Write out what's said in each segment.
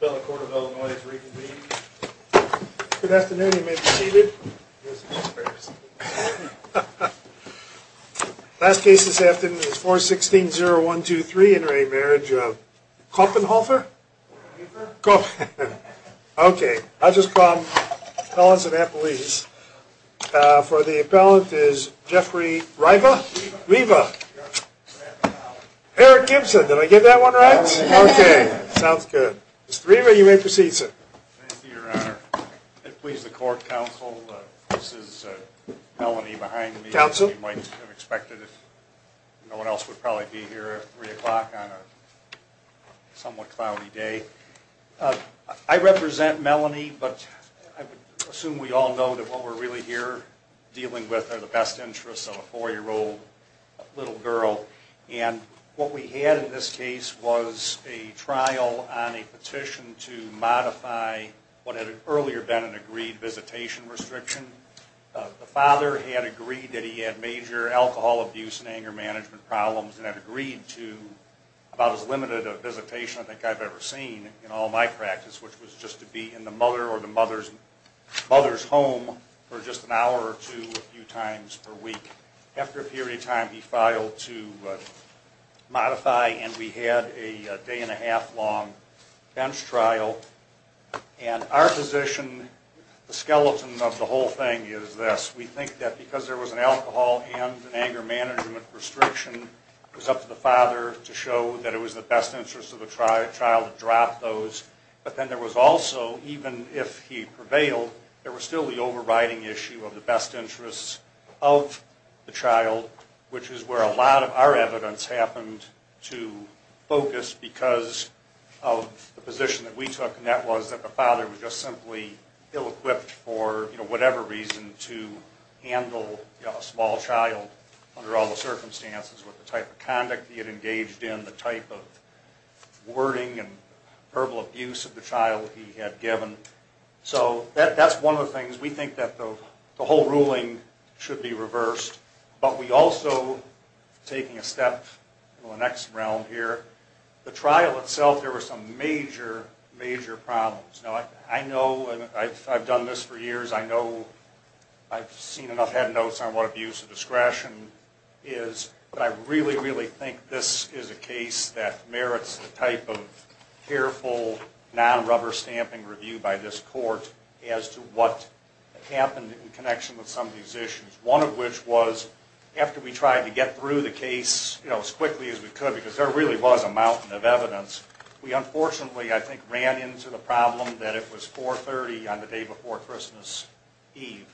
The appellate court of Illinois is reconvened. Good afternoon, you may be seated. Last case this afternoon is 416-0123 in re Marriage of Koppenhoefer. Okay, I'll just call appellants and appellees. For the appellant is Jeffrey Riva. Eric Gibson, did I get that one right? Good. Mr. Riva, you may proceed, sir. Thank you, your honor. Please, the court counsel, this is Melanie behind me. Counsel. As you might have expected. No one else would probably be here at 3 o'clock on a somewhat cloudy day. I represent Melanie, but I assume we all know that what we're really here dealing with are the best interests of a 4-year-old little girl. And what we had in this case was a trial on a petition to modify what had earlier been an agreed visitation restriction. The father had agreed that he had major alcohol abuse and anger management problems and had agreed to about as limited a visitation I think I've ever seen in all my practice, which was just to be in the mother or the mother's home for just an hour or two a few times per week. After a period of time, he filed to modify and we had a day and a half long bench trial. And our position, the skeleton of the whole thing is this. We think that because there was an alcohol and an anger management restriction, it was up to the father to show that it was in the best interest of the child to drop those. But then there was also, even if he prevailed, there was still the overriding issue of the best interests of the child, which is where a lot of our evidence happened to focus because of the position that we took. And that was that the father was just simply ill-equipped for whatever reason to handle a small child under all the circumstances, with the type of conduct he had engaged in, the type of wording and verbal abuse of the child he had given. So that's one of the things we think that the whole ruling should be reversed. But we also, taking a step to the next round here, the trial itself there were some major, major problems. Now I know, I've done this for years, I know I've seen enough, had notes on what abuse of discretion is, but I really, really think this is a case that merits the type of careful, non-rubber stamping review by this court as to what happened in connection with some of these issues. One of which was, after we tried to get through the case as quickly as we could, because there really was a mountain of evidence, we unfortunately, I think, ran into the problem that it was 4.30 on the day before Christmas Eve.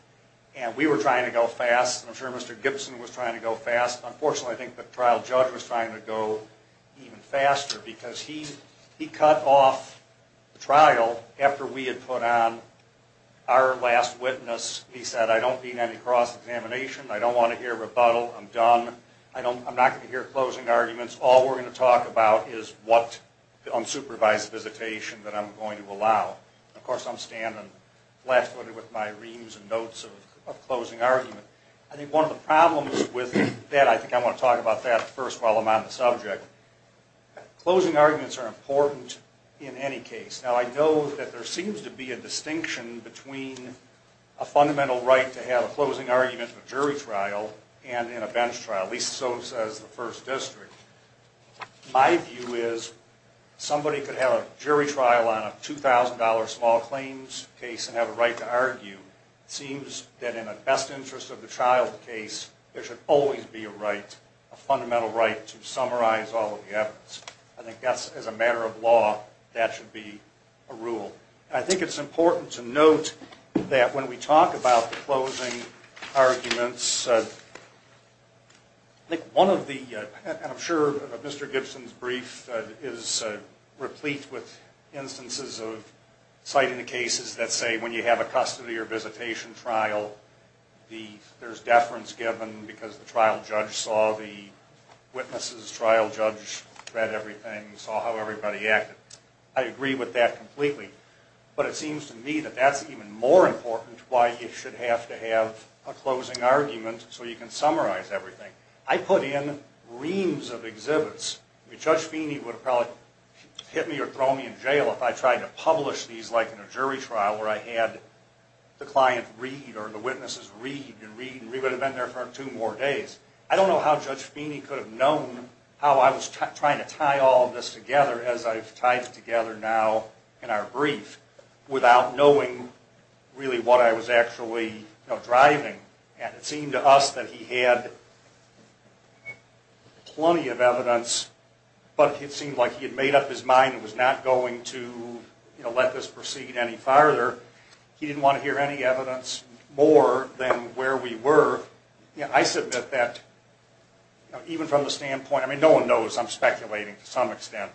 And we were trying to go fast, and I'm sure Mr. Gibson was trying to go fast. Unfortunately, I think the trial judge was trying to go even faster because he cut off the trial after we had put on our last witness. He said, I don't need any cross-examination, I don't want to hear rebuttal, I'm done, I'm not going to hear closing arguments. All we're going to talk about is what unsupervised visitation that I'm going to allow. Of course, I'm standing last minute with my reams and notes of closing argument. I think one of the problems with that, I think I want to talk about that first while I'm on the subject. Closing arguments are important in any case. Now I know that there seems to be a distinction between a fundamental right to have a closing argument in a jury trial and in a bench trial. At least so says the First District. My view is somebody could have a jury trial on a $2,000 small claims case and have a right to argue. It seems that in the best interest of the child's case, there should always be a right, a fundamental right, to summarize all of the evidence. I think as a matter of law, that should be a rule. I think it's important to note that when we talk about the closing arguments, I'm sure Mr. Gibson's brief is replete with instances of citing the cases that say when you have a custody or visitation trial, there's deference given because the trial judge saw the witnesses, trial judge read everything, saw how everybody acted. I agree with that completely. But it seems to me that that's even more important why you should have to have a closing argument so you can summarize everything. I put in reams of exhibits. Judge Feeney would have probably hit me or thrown me in jail if I tried to publish these like in a jury trial where I had the client read or the witnesses read and read and read. I would have been there for two more days. I don't know how Judge Feeney could have known how I was trying to tie all of this together as I've tied it together now in our brief without knowing really what I was actually driving. It seemed to us that he had plenty of evidence, but it seemed like he had made up his mind and was not going to let this proceed any farther. He didn't want to hear any evidence more than where we were. I submit that even from the standpoint, I mean no one knows, I'm speculating to some extent,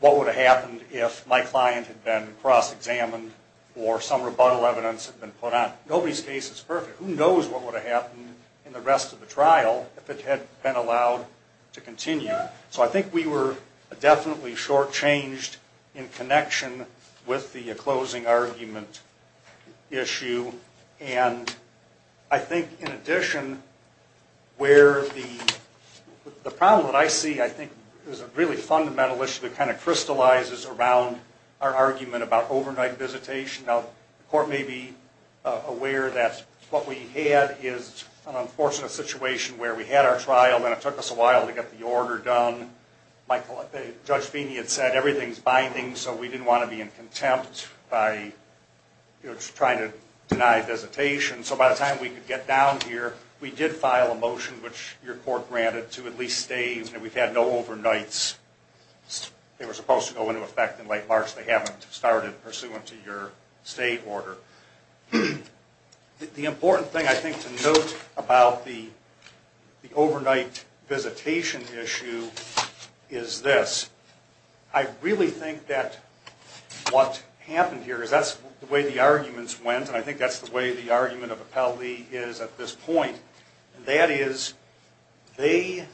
what would have happened if my client had been cross-examined or some rebuttal evidence had been put on. Nobody's case is perfect. Who knows what would have happened in the rest of the trial if it had been allowed to continue. So I think we were definitely shortchanged in connection with the closing argument issue. I think in addition where the problem that I see I think is a really fundamental issue that kind of crystallizes around our argument about overnight visitation. Now the court may be aware that what we had is an unfortunate situation where we had our trial and it took us a while to get the order done. Judge Feeney had said everything's binding, so we didn't want to be in contempt by trying to deny visitation. So by the time we could get down here, we did file a motion which your court granted to at least stay. We've had no overnights. They were supposed to go into effect in late March. They haven't started pursuant to your stay order. The important thing I think to note about the overnight visitation issue is this. I really think that what happened here is that's the way the arguments went and I think that's the way the argument of Appellee is at this point. And that is they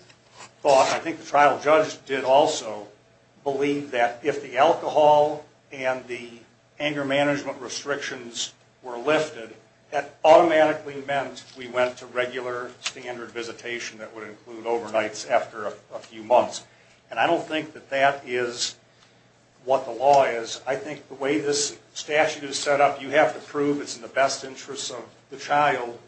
thought, I think the trial judge did also believe that if the alcohol and the anger management restrictions were lifted, that automatically meant we went to regular standard visitation that would include overnights after a few months. And I don't think that that is what the law is. I think the way this statute is set up, you have to prove it's in the best interest of the child.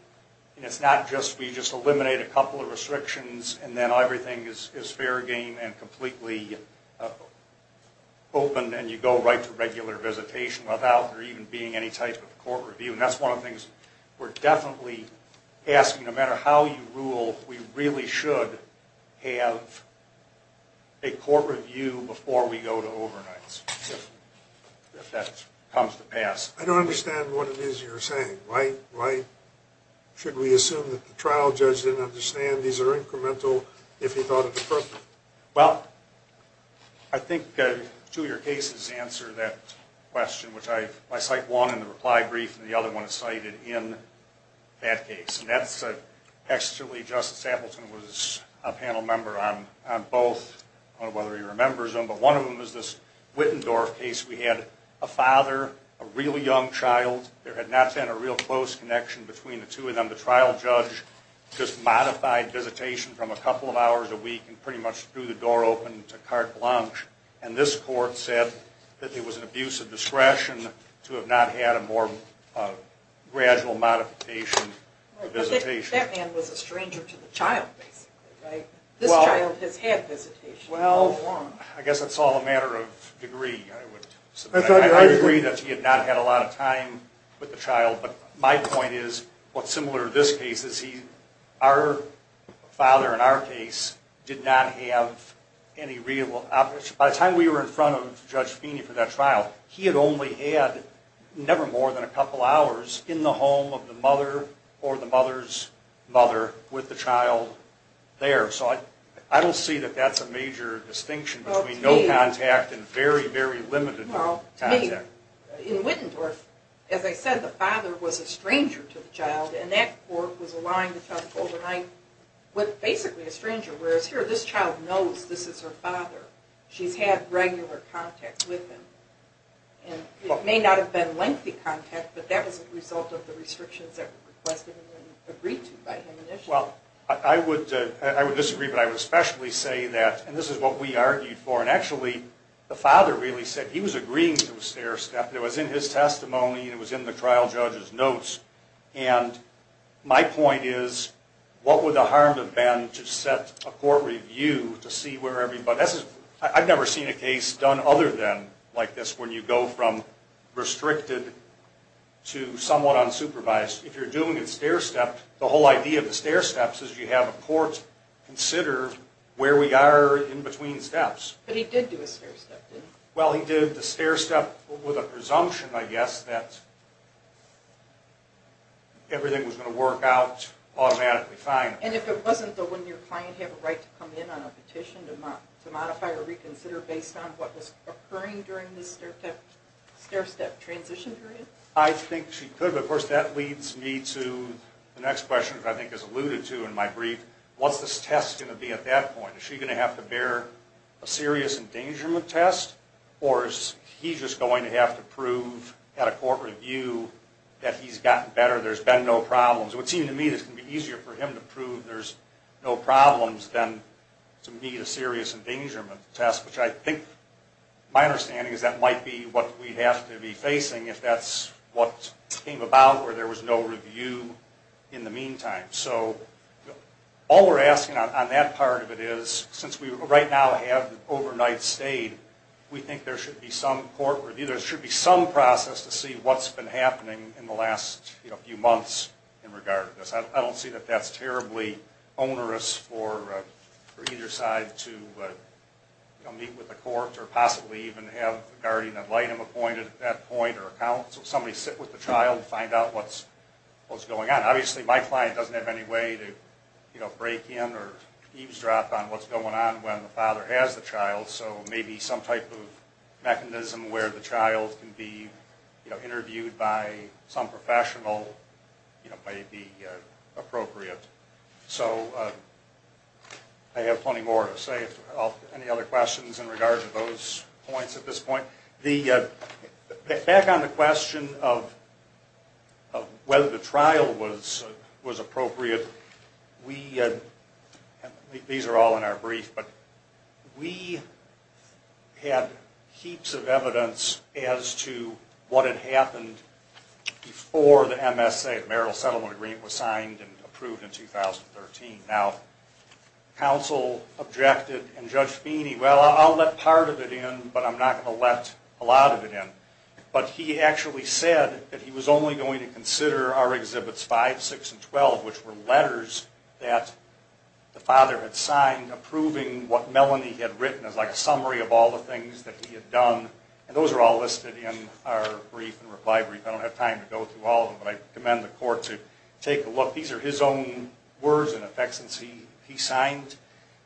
It's not just we just eliminate a couple of restrictions and then everything is fair game and completely open and you go right to regular visitation without there even being any type of court review. And that's one of the things we're definitely asking. No matter how you rule, we really should have a court review before we go to overnights if that comes to pass. I don't understand what it is you're saying. Why should we assume that the trial judge didn't understand these are incremental if he thought it was perfect? Well, I think two of your cases answer that question, which I cite one in the reply brief and the other one is cited in that case. And that's actually Justice Appleton was a panel member on both. I don't know whether he remembers them, but one of them is this Wittendorf case. We had a father, a really young child. There had not been a real close connection between the two of them. And the trial judge just modified visitation from a couple of hours a week and pretty much threw the door open to carte blanche. And this court said that it was an abuse of discretion to have not had a more gradual modification of visitation. That man was a stranger to the child, basically, right? This child has had visitation. Well, I guess it's all a matter of degree. I agree that he had not had a lot of time with the child, but my point is what's similar to this case is our father in our case did not have any real... By the time we were in front of Judge Feeney for that trial, he had only had never more than a couple hours in the home of the mother or the mother's mother with the child there. So I don't see that that's a major distinction between no contact and very, very limited contact. To me, in Wittendorf, as I said, the father was a stranger to the child, and that court was allowing the child to go overnight with basically a stranger. Whereas here, this child knows this is her father. She's had regular contact with him. It may not have been lengthy contact, but that was a result of the restrictions that were requested and agreed to by him initially. Well, I would disagree, but I would especially say that, and this is what we argued for, and actually the father really said he was agreeing to a stair step. It was in his testimony. It was in the trial judge's notes, and my point is what would the harm have been to set a court review to see where everybody... I've never seen a case done other than like this when you go from restricted to somewhat unsupervised. If you're doing a stair step, the whole idea of the stair steps is you have a court consider where we are in between steps. But he did do a stair step, didn't he? Well, he did the stair step with a presumption, I guess, that everything was going to work out automatically fine. And if it wasn't, though, wouldn't your client have a right to come in on a petition to modify or reconsider based on what was occurring during the stair step transition period? I think she could, but, of course, that leads me to the next question, which I think is alluded to in my brief. What's this test going to be at that point? Is she going to have to bear a serious endangerment test, or is he just going to have to prove at a court review that he's gotten better, there's been no problems? It would seem to me it's going to be easier for him to prove there's no problems than to meet a serious endangerment test, which I think my understanding is that might be what we have to be facing if that's what came about where there was no review in the meantime. So all we're asking on that part of it is, since we right now have the overnight stayed, we think there should be some court review. There should be some process to see what's been happening in the last few months in regard to this. I don't see that that's terribly onerous for either side to meet with the court or possibly even have the guardian of light appointed at that point, or somebody sit with the child and find out what's going on. Obviously, my client doesn't have any way to break in or eavesdrop on what's going on when the father has the child, so maybe some type of mechanism where the child can be interviewed by some professional may be appropriate. So I have plenty more to say. Any other questions in regard to those points at this point? Back on the question of whether the trial was appropriate, these are all in our brief, but we had heaps of evidence as to what had happened before the MSA, the Marital Settlement Agreement, was signed and approved in 2013. Now, counsel objected and Judge Feeney, well, I'll let part of it in, but I'm not going to let a lot of it in. But he actually said that he was only going to consider our Exhibits 5, 6, and 12, which were letters that the father had signed approving what Melanie had written as like a summary of all the things that he had done. And those are all listed in our brief and reply brief. I don't have time to go through all of them, but I commend the court to take a look. These are his own words, in effect, since he signed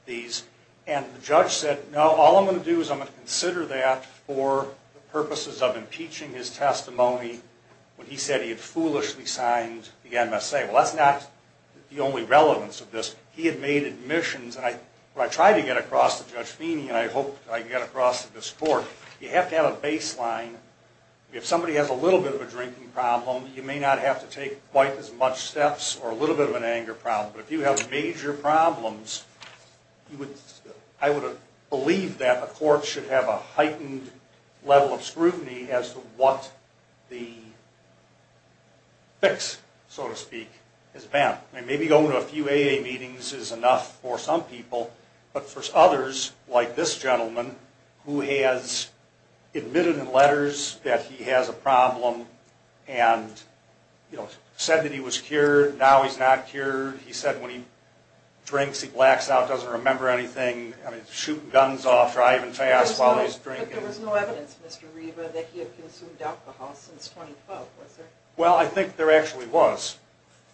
these. And the judge said, no, all I'm going to do is I'm going to consider that for the purposes of impeaching his testimony when he said he had foolishly signed the MSA. Well, that's not the only relevance of this. He had made admissions, and I tried to get across to Judge Feeney, and I hope I can get across to this court. You have to have a baseline. If somebody has a little bit of a drinking problem, you may not have to take quite as much steps or a little bit of an anger problem. But if you have major problems, I would believe that the court should have a heightened level of scrutiny as to what the fix, so to speak, has been. Maybe going to a few AA meetings is enough for some people, but for others, like this gentleman, who has admitted in letters that he has a problem and said that he was cured, now he's not cured. He said when he drinks, he blacks out, doesn't remember anything. I mean, shooting guns off, driving fast while he's drinking. But there was no evidence, Mr. Riva, that he had consumed alcohol since 2012, was there? Well, I think there actually was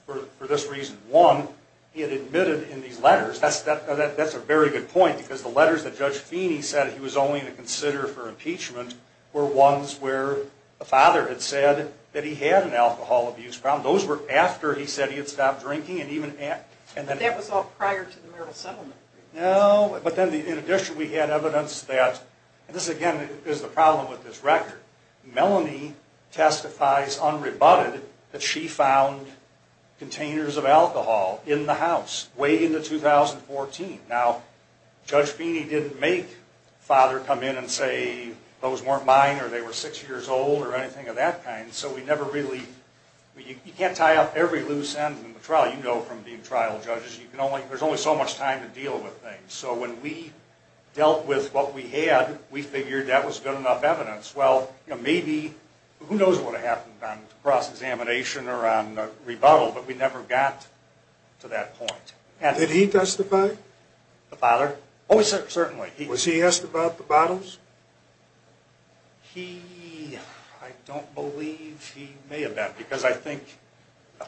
for this reason. One, he had admitted in these letters, that's a very good point, because the letters that Judge Feeney said he was only going to consider for impeachment were ones where the father had said that he had an alcohol abuse problem. Those were after he said he had stopped drinking and even after. But that was all prior to the Merrill settlement. No, but then in addition, we had evidence that, and this again is the problem with this record, Melanie testifies unrebutted that she found containers of alcohol in the house way into 2014. Now, Judge Feeney didn't make father come in and say those weren't mine or they were six years old or anything of that kind. So we never really, you can't tie up every loose end in the trial. You know from being trial judges, there's only so much time to deal with things. So when we dealt with what we had, we figured that was good enough evidence. Well, maybe, who knows what would have happened on cross-examination or on rebuttal, but we never got to that point. Did he testify? The father? Oh, certainly. Was he asked about the bottles? He, I don't believe he may have been, because I think,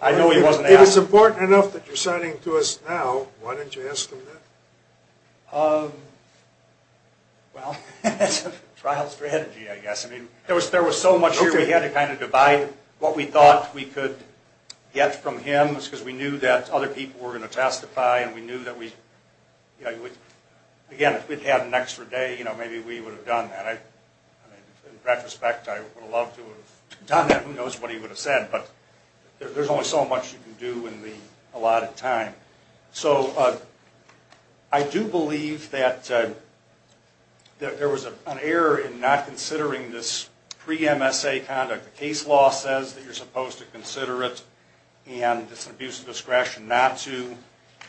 I know he wasn't asked. If it's important enough that you're citing to us now, why didn't you ask him that? Well, that's a trial strategy, I guess. I mean, there was so much here we had to kind of divide what we thought we could get from him, because we knew that other people were going to testify and we knew that we, you know, again, if we'd had an extra day, you know, maybe we would have done that. I mean, in retrospect, I would have loved to have done that. Who knows what he would have said, but there's only so much you can do in the allotted time. So I do believe that there was an error in not considering this pre-MSA conduct. The case law says that you're supposed to consider it, and it's an abuse of discretion not to.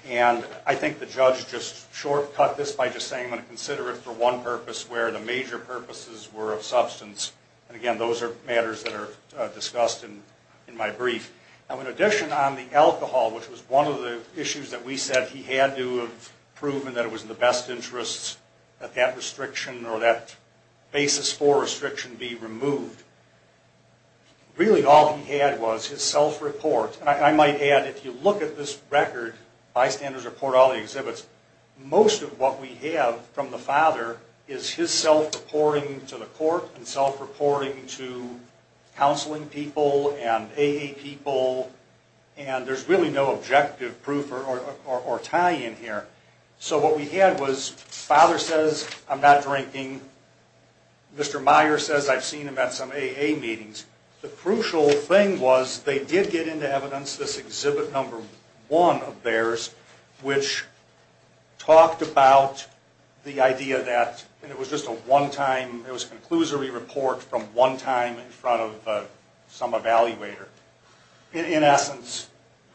And I think the judge just shortcut this by just saying I'm going to consider it for one purpose, where the major purposes were of substance. And, again, those are matters that are discussed in my brief. Now, in addition on the alcohol, which was one of the issues that we said he had to have proven that it was in the best interests that that restriction or that basis for restriction be removed, really all he had was his self-report. And I might add, if you look at this record, bystanders report all the exhibits, most of what we have from the father is his self-reporting to the court and self-reporting to counseling people and AA people, and there's really no objective proof or tie-in here. So what we had was father says, I'm not drinking. Mr. Meyer says, I've seen him at some AA meetings. The crucial thing was they did get into evidence, this exhibit number one of theirs, which talked about the idea that it was just a one-time, it was a conclusory report from one time in front of some evaluator. In essence,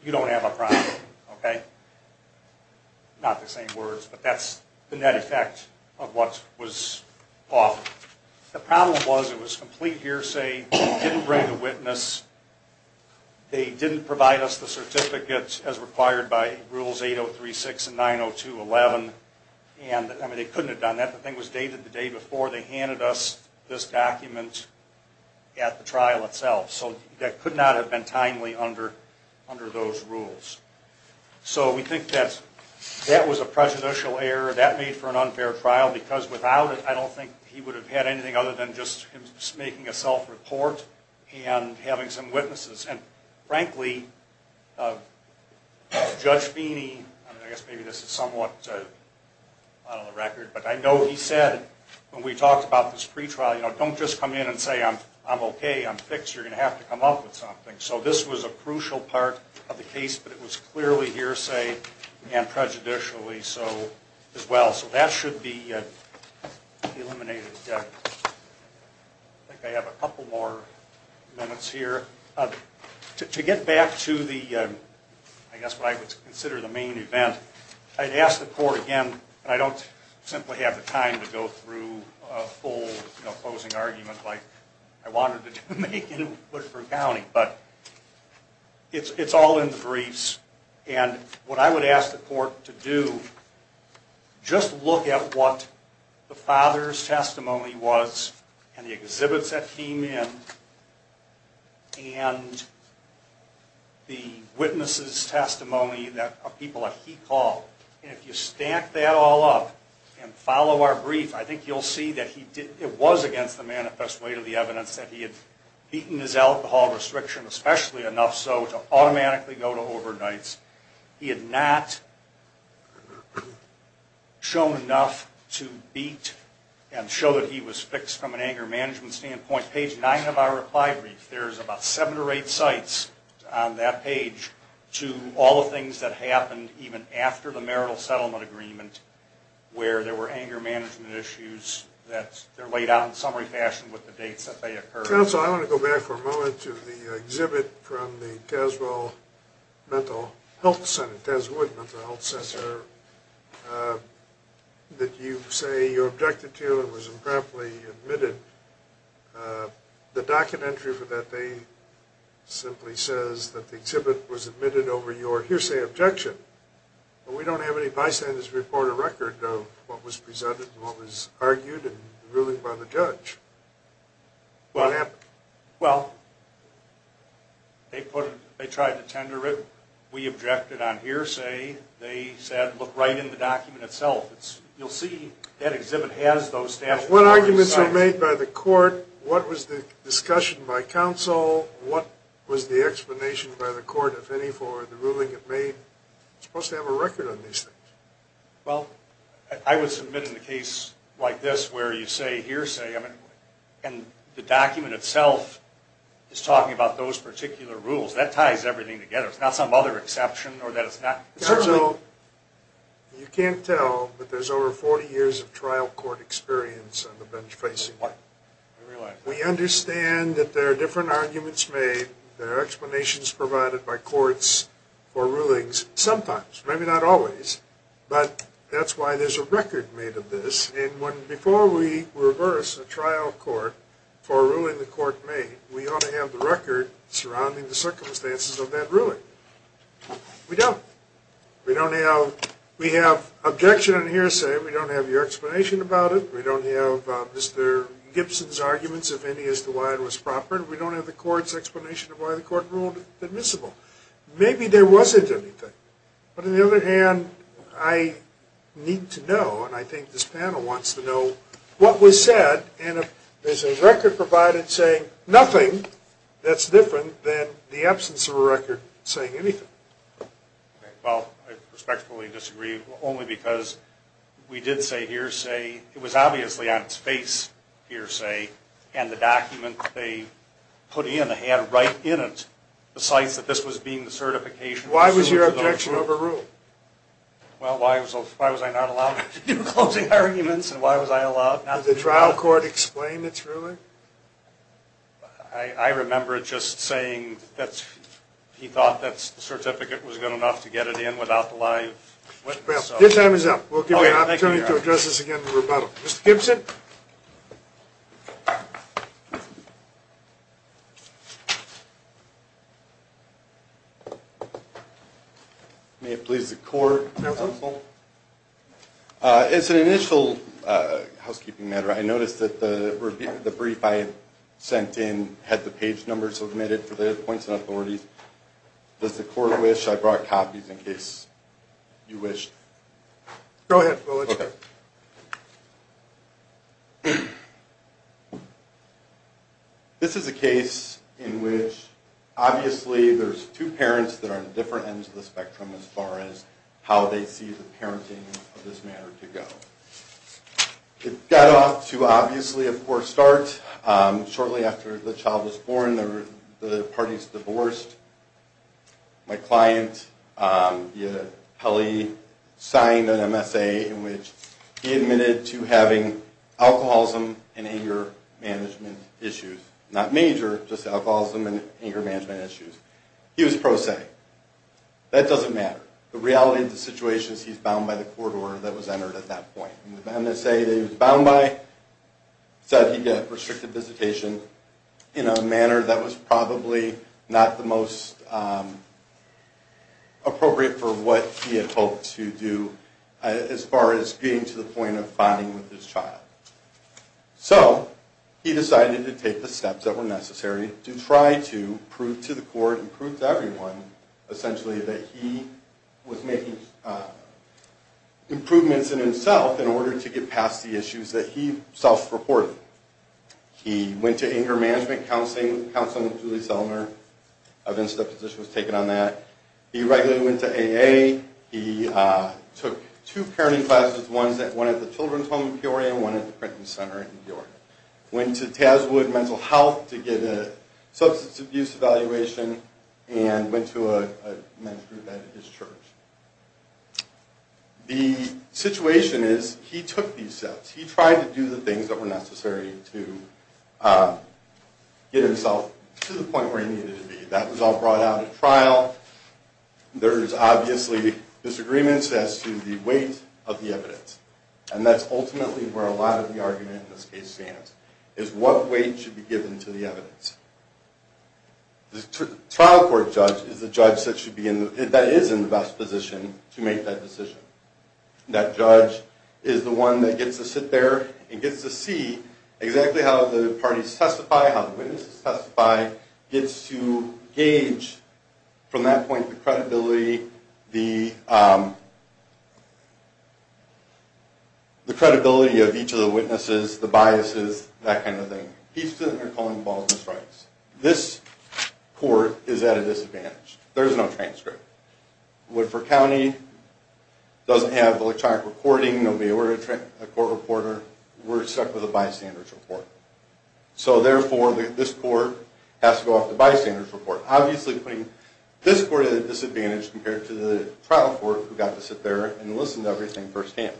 you don't have a problem, okay? Not the same words, but that's the net effect of what was offered. The problem was it was complete hearsay, didn't bring a witness, they didn't provide us the certificate as required by Rules 8036 and 902.11, and, I mean, they couldn't have done that. The thing was dated the day before they handed us this document at the trial itself. So that could not have been timely under those rules. So we think that that was a prejudicial error, that made for an unfair trial, because without it, I don't think he would have had anything other than just making a self-report and having some witnesses. And, frankly, Judge Feeney, I guess maybe this is somewhat out of the record, but I know he said when we talked about this pretrial, you know, don't just come in and say, I'm okay, I'm fixed, you're going to have to come up with something. So this was a crucial part of the case, but it was clearly hearsay and prejudicially so as well. So that should be eliminated. I think I have a couple more minutes here. To get back to the, I guess what I would consider the main event, I'd ask the court again, and I don't simply have the time to go through a full, you know, closing argument like I wanted to make in Woodford County, but it's all in the briefs. And what I would ask the court to do, just look at what the father's testimony was and the exhibits that came in and the witness's testimony that people like he called. And if you stack that all up and follow our brief, I think you'll see that he did, it was against the manifest way to the evidence that he had beaten his alcohol restriction, especially enough so to automatically go to overnights. He had not shown enough to beat and show that he was fixed from an anger management standpoint. Page 9 of our reply brief, there's about 7 or 8 sites on that page to all the things that happened even after the marital settlement agreement where there were anger management issues that are laid out in summary fashion with the dates that they occurred. Counsel, I want to go back for a moment to the exhibit from the Tazewell Mental Health Center, Tazewood Mental Health Center, that you say you objected to and was improperly admitted. The docket entry for that day simply says that the exhibit was admitted over your hearsay objection. We don't have any bystanders report a record of what was presented and what was argued and the ruling by the judge. What happened? Well, they tried to tender it. We objected on hearsay. They said look right in the document itself. You'll see that exhibit has those statutory signs. What arguments were made by the court? What was the discussion by counsel? What was the explanation by the court, if any, for the ruling it made? It's supposed to have a record on these things. Well, I would submit in a case like this where you say hearsay and the document itself is talking about those particular rules. That ties everything together. It's not some other exception. You can't tell, but there's over 40 years of trial court experience on the bench facing. I realize that. We understand that there are different arguments made. There are explanations provided by courts for rulings. Sometimes, maybe not always, but that's why there's a record made of this. Before we reverse a trial court for a ruling the court made, we ought to have the record surrounding the circumstances of that ruling. We don't. We have objection on hearsay. We don't have your explanation about it. We don't have Mr. Gibson's arguments, if any, as to why it was proper. We don't have the court's explanation of why the court ruled admissible. Maybe there wasn't anything. But on the other hand, I need to know, and I think this panel wants to know, what was said, and if there's a record provided saying nothing, that's different than the absence of a record saying anything. Well, I respectfully disagree only because we did say hearsay. It was obviously on its face, hearsay, and the document they put in, they had right in it the sites that this was being the certification. Why was your objection overruled? Well, why was I not allowed to do closing arguments, and why was I allowed not to do that? Did the trial court explain its ruling? I remember it just saying that he thought the certificate was good enough to get it in without the lie of witness. Your time is up. We'll give you an opportunity to address this again in rebuttal. Mr. Gibson? May it please the court? Counsel? As an initial housekeeping matter, I noticed that the brief I had sent in had the page numbers submitted for the points and authorities. Does the court wish I brought copies in case you wish? Go ahead. This is a case in which obviously there's two parents that are on different ends of the spectrum as far as how they see the parenting of this matter to go. It got off to obviously a poor start. Shortly after the child was born, the parties divorced. My client, Kelly, signed an MSA in which he admitted to having alcoholism and anger management issues. Not major, just alcoholism and anger management issues. He was pro se. That doesn't matter. The reality of the situation is he's bound by the court order that was entered at that point. The MSA that he was bound by said he got restricted visitation in a manner that was probably not the most appropriate for what he had hoped to do as far as getting to the point of bonding with his child. So he decided to take the steps that were necessary to try to prove to the court and prove to everyone essentially that he was making improvements in himself in order to get past the issues that he self-reported. He went to anger management counseling. Counseling with Julie Zellner. A VISTA position was taken on that. He regularly went to AA. He took two parenting classes, one at the Children's Home in Peoria and one at the Prenton Center in New York. Went to Tazwood Mental Health to get a substance abuse evaluation and went to a men's group at his church. The situation is he took these steps. He tried to do the things that were necessary to get himself to the point where he needed to be. That was all brought out at trial. There's obviously disagreements as to the weight of the evidence, and that's ultimately where a lot of the argument in this case stands, is what weight should be given to the evidence. The trial court judge is the judge that is in the best position to make that decision. That judge is the one that gets to sit there and gets to see exactly how the parties testify, how the witnesses testify, gets to gauge from that point the credibility of each of the witnesses, the biases, that kind of thing. He's sitting there calling balls and strikes. This court is at a disadvantage. There's no transcript. Woodford County doesn't have electronic reporting. They'll be aware of a court reporter. We're stuck with a bystanders report. So therefore, this court has to go off the bystanders report. Obviously, this court is at a disadvantage compared to the trial court who got to sit there and listen to everything firsthand.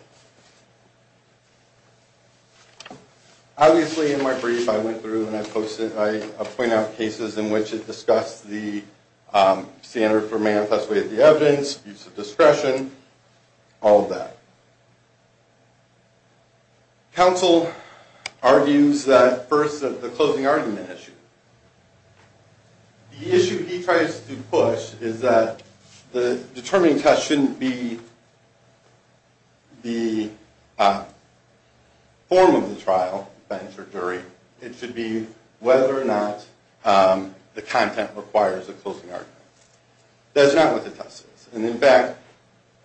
Obviously, in my brief, I went through and I pointed out cases in which it discussed the standard for manifest weight of the evidence, use of discretion, all of that. Counsel argues that first, the closing argument issue. The issue he tries to push is that the determining test shouldn't be the form of the trial, bench or jury. It should be whether or not the content requires a closing argument. That's not what the test is. In fact,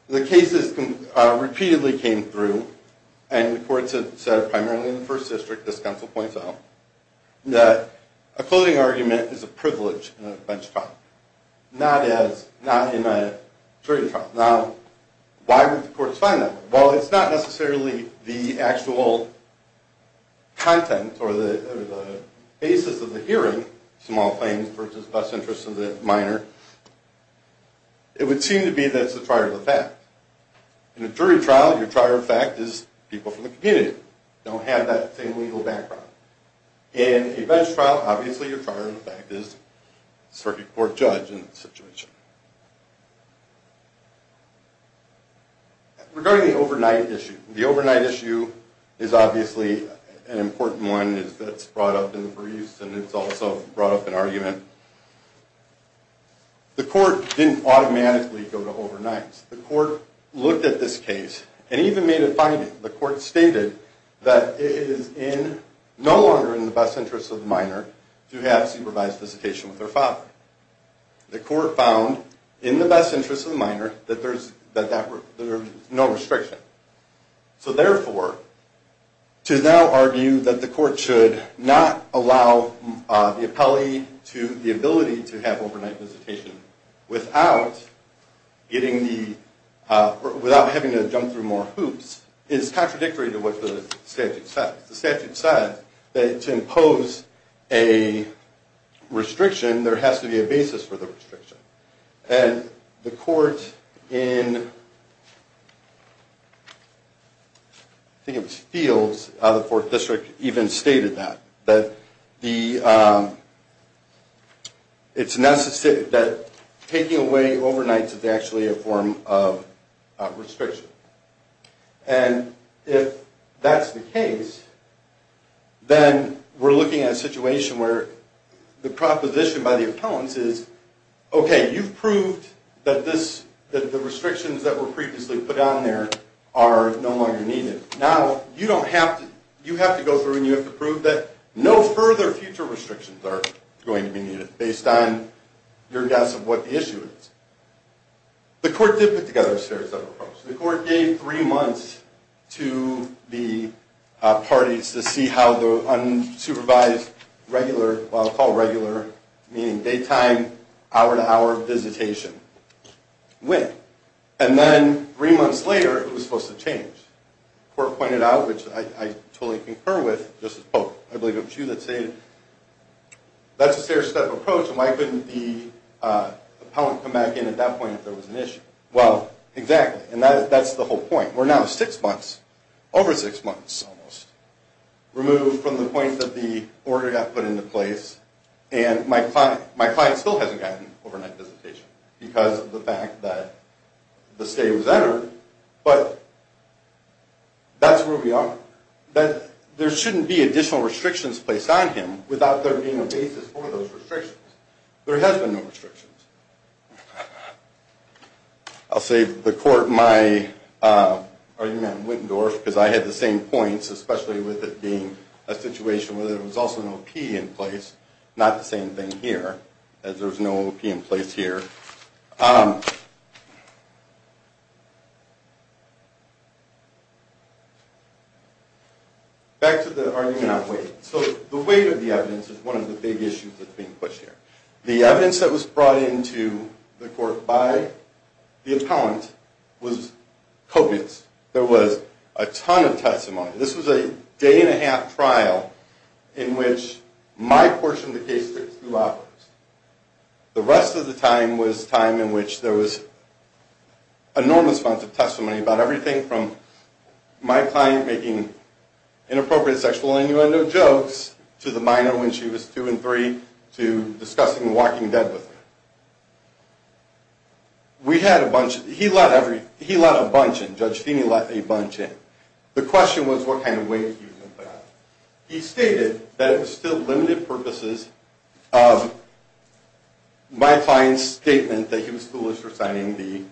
the cases repeatedly came through and the courts have said, primarily in the first district, as counsel points out, that a closing argument is a privilege in a bench trial, not in a jury trial. Now, why would the courts find that? Well, it's not necessarily the actual content or the basis of the hearing, small claims versus best interest of the minor. It would seem to be that it's a prior fact. In a jury trial, your prior fact is people from the community don't have that same legal background. In a bench trial, obviously, your prior fact is a circuit court judge in that situation. Regarding the overnight issue, the overnight issue is obviously an important one that's brought up in the briefs and it's also brought up in argument. The court didn't automatically go to overnights. The court looked at this case and even made a finding. The court stated that it is no longer in the best interest of the minor to have supervised visitation with her father. The court found, in the best interest of the minor, that there's no restriction. Therefore, to now argue that the court should not allow the appellee the ability to have overnight visitation without having to jump through more hoops, is contradictory to what the statute says. The statute says that to impose a restriction, there has to be a basis for the restriction. The court in Fields, out of the 4th District, even stated that. It's necessary that taking away overnights is actually a form of restriction. If that's the case, then we're looking at a situation where the proposition by the opponents is, okay, you've proved that the restrictions that were previously put on there are no longer needed. Now, you have to go through and you have to prove that no further future restrictions are going to be needed based on your guess of what the issue is. The court did put together a stair-step approach. The court gave three months to the parties to see how the unsupervised regular, well, I'll call it regular, meaning daytime, hour-to-hour visitation, went. And then, three months later, it was supposed to change. The court pointed out, which I totally concur with, Justice Polk, I believe it was you that stated, that's a stair-step approach, and why couldn't the opponent come back in at that point if there was an issue? Well, exactly, and that's the whole point. We're now six months, over six months almost, removed from the point that the order got put into place, and my client still hasn't gotten overnight visitation because of the fact that the stay was entered, but that's where we are. There shouldn't be additional restrictions placed on him without there being a basis for those restrictions. There has been no restrictions. I'll save the court my argument in Wittendorf, because I had the same points, especially with it being a situation where there was also an OP in place, not the same thing here, as there was no OP in place here. Back to the argument on weight. So, the weight of the evidence is one of the big issues that's being pushed here. The evidence that was brought into the court by the appellant was copious. There was a ton of testimony. This was a day-and-a-half trial in which my portion of the case went through operatives. The rest of the time was time in which there was enormous amounts of testimony about everything from my client making inappropriate sexual innuendo jokes to the minor when she was two and three to discussing The Walking Dead with her. We had a bunch. He let a bunch in. Judge Feeney let a bunch in. The question was what kind of weight he was going to put on. He stated that it was still limited purposes of my client's statement that he was foolish for signing the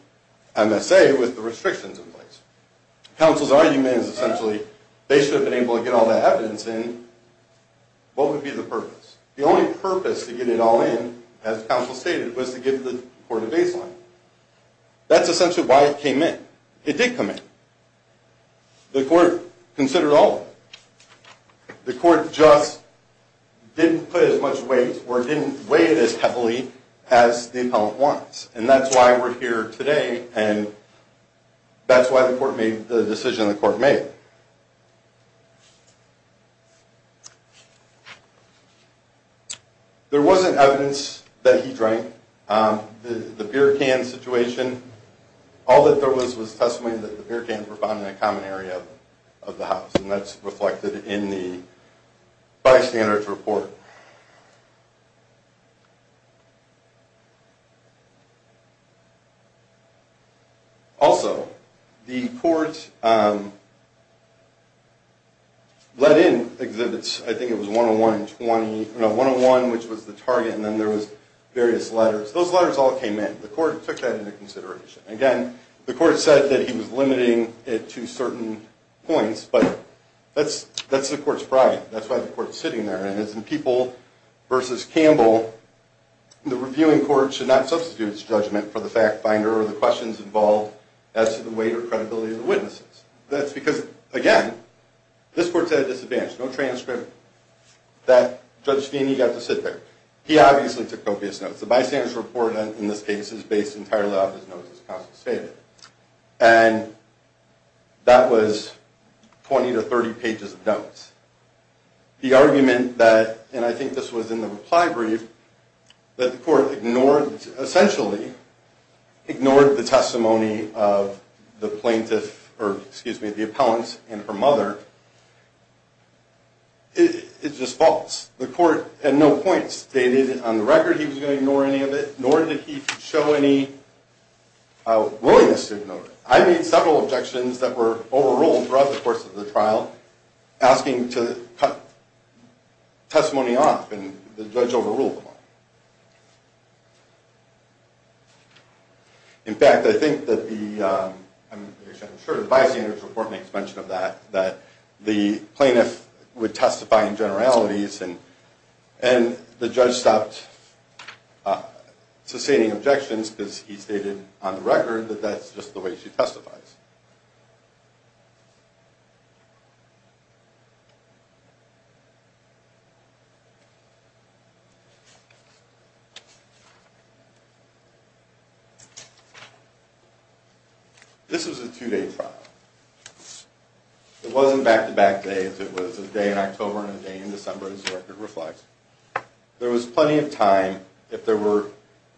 MSA with the restrictions in place. Counsel's argument is essentially they should have been able to get all that evidence in. What would be the purpose? The only purpose to get it all in, as counsel stated, was to give the court a baseline. That's essentially why it came in. It did come in. The court considered all of it. The court just didn't put as much weight or didn't weigh it as heavily as the appellant wants, and that's why we're here today and that's why the court made the decision the court made. There wasn't evidence that he drank. The beer can situation, all that there was was testimony that the beer cans were found in a common area of the house, and that's reflected in the bystander's report. Also, the court let in exhibits. I think it was 101 and 20, no, 101, which was the target, and then there was various letters. Those letters all came in. The court took that into consideration. Again, the court said that he was limiting it to certain points, but that's the court's pride. That's why the court's sitting there, and as in People v. Campbell, the reviewing court should not substitute its judgment for the fact finder or the questions involved as to the weight or credibility of the witnesses. That's because, again, this court's at a disadvantage. No transcript that Judge Feeney got to sit there. He obviously took copious notes. The bystander's report in this case is based entirely off his notes as counsel stated, and that was 20 to 30 pages of notes. The argument that, and I think this was in the reply brief, that the court ignored, essentially ignored the testimony of the plaintiff or, excuse me, the appellant and her mother is just false. The court at no point stated on the record he was going to ignore any of it, nor did he show any willingness to ignore it. I made several objections that were overruled throughout the course of the trial asking to cut testimony off, and the judge overruled them all. In fact, I think that the, I'm sure the bystander's report makes mention of that, that the plaintiff would testify in generalities, and the judge stopped sustaining objections because he stated on the record that that's just the way she testifies. This was a two-day trial. It wasn't back-to-back days. It was a day in October and a day in December, as the record reflects. There was plenty of time, if there were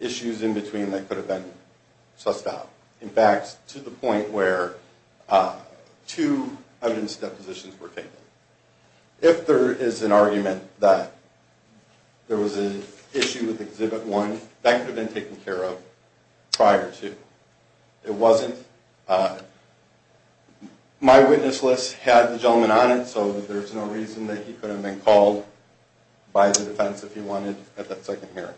issues in between, that could have been sussed out. In fact, to the point where two evidence depositions were taken. If there is an argument that there was an issue with Exhibit 1, that could have been taken care of prior to. It wasn't, my witness list had the gentleman on it, so there's no reason that he could have been called by the defense if he wanted at that second hearing.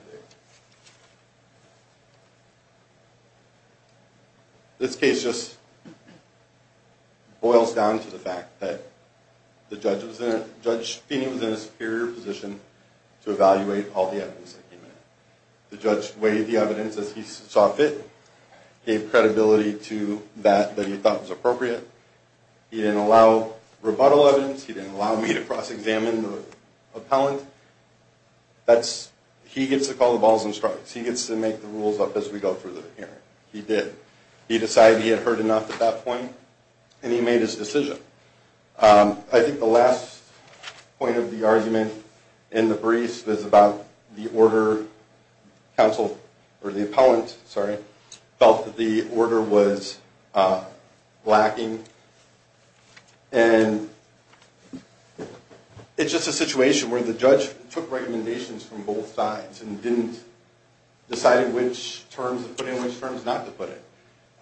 This case just boils down to the fact that the judge, Judge Feeney was in a superior position to evaluate all the evidence that came in. The judge weighed the evidence as he saw fit, gave credibility to that that he thought was appropriate. He didn't allow rebuttal evidence. He didn't allow me to cross-examine the appellant. He gets to call the balls and strikes. He gets to make the rules up as we go through the hearing. He did. He decided he had heard enough at that point, and he made his decision. I think the last point of the argument in the briefs was about the order. The appellant felt that the order was lacking, and it's just a situation where the judge took recommendations from both sides and didn't decide in which terms to put it and in which terms not to put it.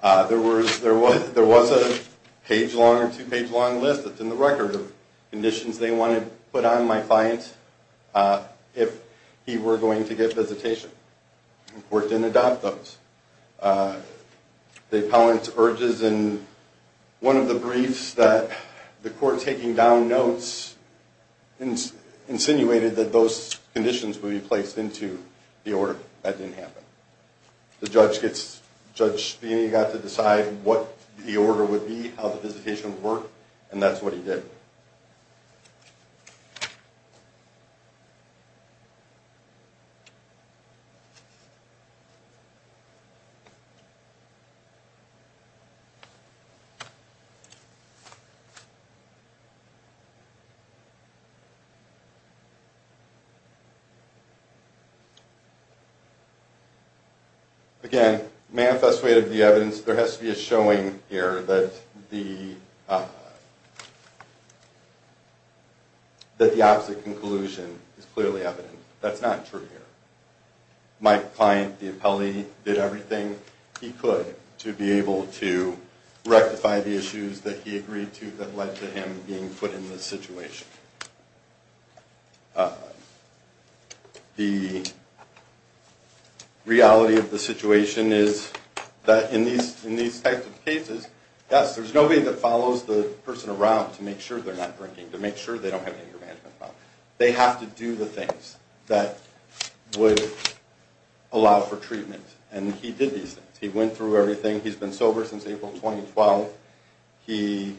There was a page-long or two-page-long list that's in the record of conditions they wanted to put on my client if he were going to get visitation. The court didn't adopt those. The appellant urges in one of the briefs that the court taking down notes insinuated that those conditions would be placed into the order. That didn't happen. The judge got to decide what the order would be, how the visitation would work, and that's what he did. Again, manifest way of the evidence, there has to be a showing here that the opposite conclusion is clearly evident. That's not true here. My client, the appellee, did everything he could to be able to rectify the issues that he agreed to that led to him being put in this situation. The reality of the situation is that in these types of cases, yes, there's nobody that follows the person around to make sure they're not drinking, to make sure they don't have any management problems. They have to do the things that would allow for treatment, and he did these things. He went through everything. He's been sober since April 2012. He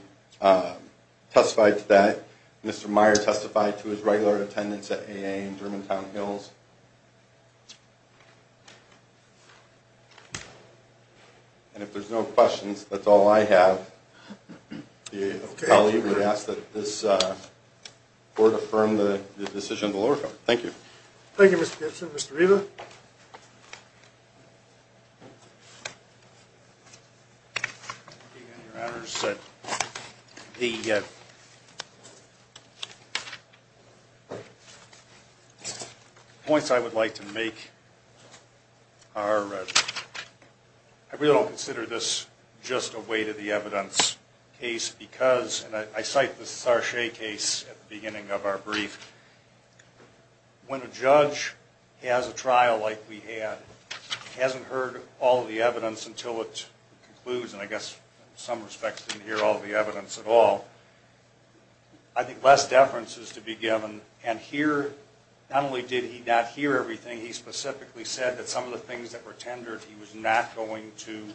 testified today. Mr. Meyer testified to his regular attendance at AA in Germantown Hills. And if there's no questions, that's all I have. The appellee would ask that this court affirm the decision of the lower court. Thank you. Thank you, Mr. Gibson. Mr. Riva? Your Honor, the points I would like to make are, I really don't consider this just a weight of the evidence case because, and I cite the Sarche case at the beginning of our brief, when a judge has a trial, like we had, hasn't heard all the evidence until it concludes, and I guess in some respects didn't hear all the evidence at all, I think less deference is to be given. And here, not only did he not hear everything, he specifically said that some of the things that were tendered, he was not going to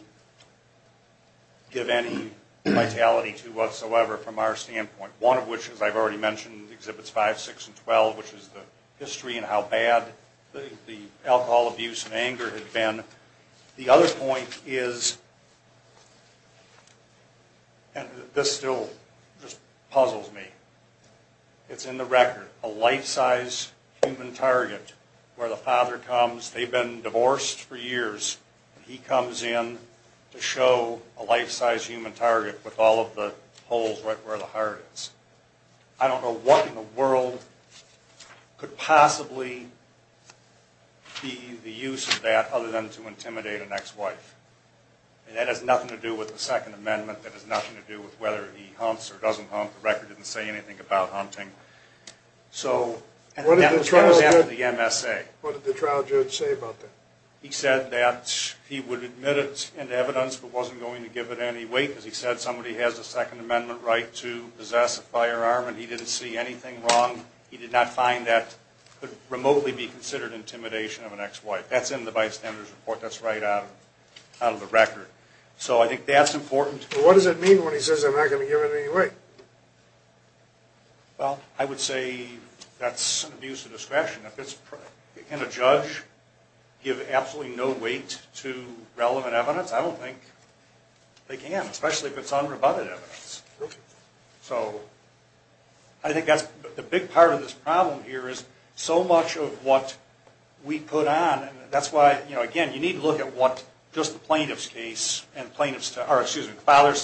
give any vitality to whatsoever from our standpoint, one of which, as I've already mentioned, Exhibits 5, 6, and 12, which is the history and how bad the alcohol abuse and anger had been. The other point is, and this still just puzzles me, it's in the record, a life-size human target where the father comes, they've been divorced for years, and he comes in to show a life-size human target with all of the holes right where the heart is. I don't know what in the world could possibly be the use of that other than to intimidate an ex-wife. And that has nothing to do with the Second Amendment. That has nothing to do with whether he hunts or doesn't hunt. The record didn't say anything about hunting. And that was after the MSA. What did the trial judge say about that? He said that he would admit it in evidence but wasn't going to give it any weight because he said somebody has a Second Amendment right to possess a firearm and he didn't see anything wrong. He did not find that could remotely be considered intimidation of an ex-wife. That's in the bystander's report. That's right out of the record. So I think that's important. But what does it mean when he says, I'm not going to give it any weight? Well, I would say that's an abuse of discretion. Can a judge give absolutely no weight to relevant evidence? I don't think they can, especially if it's unrebutted evidence. So I think that's the big part of this problem here is so much of what we put on, and that's why, you know, again, you need to look at what just the plaintiff's case and the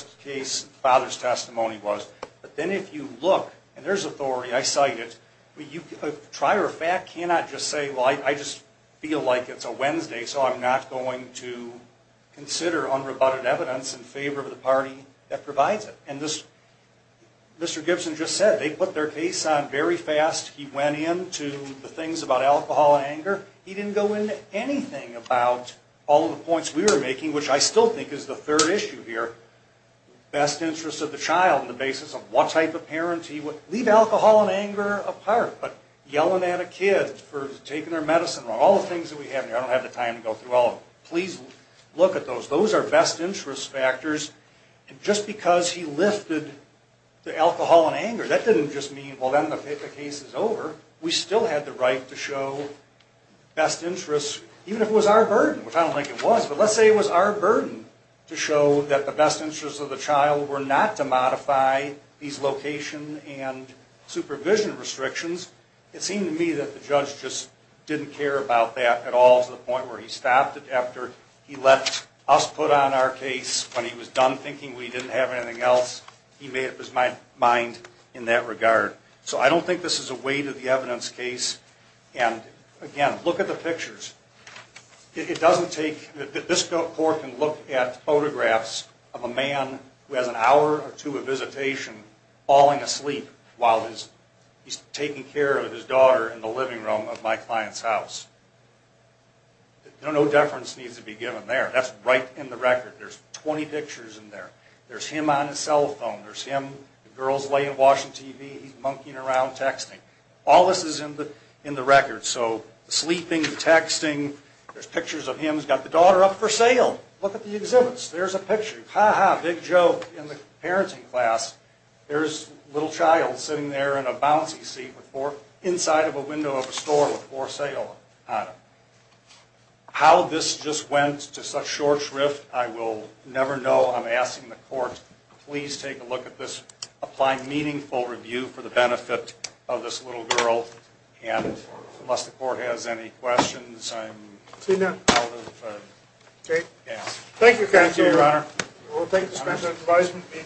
father's testimony was. But then if you look, and there's authority, I cite it, a trier of fact cannot just say, well, I just feel like it's a Wednesday so I'm not going to consider unrebutted evidence in favor of the party that provides it. And this, Mr. Gibson just said, they put their case on very fast. He went into the things about alcohol and anger. He didn't go into anything about all of the points we were making, which I still think is the third issue here, best interest of the child on the basis of what type of parent he was. Leave alcohol and anger apart, but yelling at a kid for taking their medicine wrong, all the things that we have here, I don't have the time to go through all of them. Please look at those. Those are best interest factors. And just because he lifted the alcohol and anger, that didn't just mean, well, then the case is over. We still had the right to show best interests, even if it was our burden, which I don't think it was. But let's say it was our burden to show that the best interests of the child were not to modify these location and supervision restrictions. It seemed to me that the judge just didn't care about that at all to the point where he stopped it after he left us put on our case when he was done thinking we didn't have anything else. He made up his mind in that regard. So I don't think this is a weight of the evidence case. And again, look at the pictures. It doesn't take – this court can look at photographs of a man who has an hour or two of visitation falling asleep while he's taking care of his daughter in the living room of my client's house. No deference needs to be given there. That's right in the record. There's 20 pictures in there. There's him on his cell phone. There's him, the girls laying, watching TV. He's monkeying around, texting. All this is in the record. So the sleeping, the texting, there's pictures of him. He's got the daughter up for sale. Look at the exhibits. There's a picture. Ha, ha, big joke in the parenting class. There's a little child sitting there in a bouncy seat inside of a window of a store with for sale on it. How this just went to such short shrift, I will never know. I'm asking the court, please take a look at this, apply meaningful review for the benefit of this little girl. And unless the court has any questions, I'm out of gas. Thank you, counsel. Thank you, your honor. We will take this measure into advisement being recessed.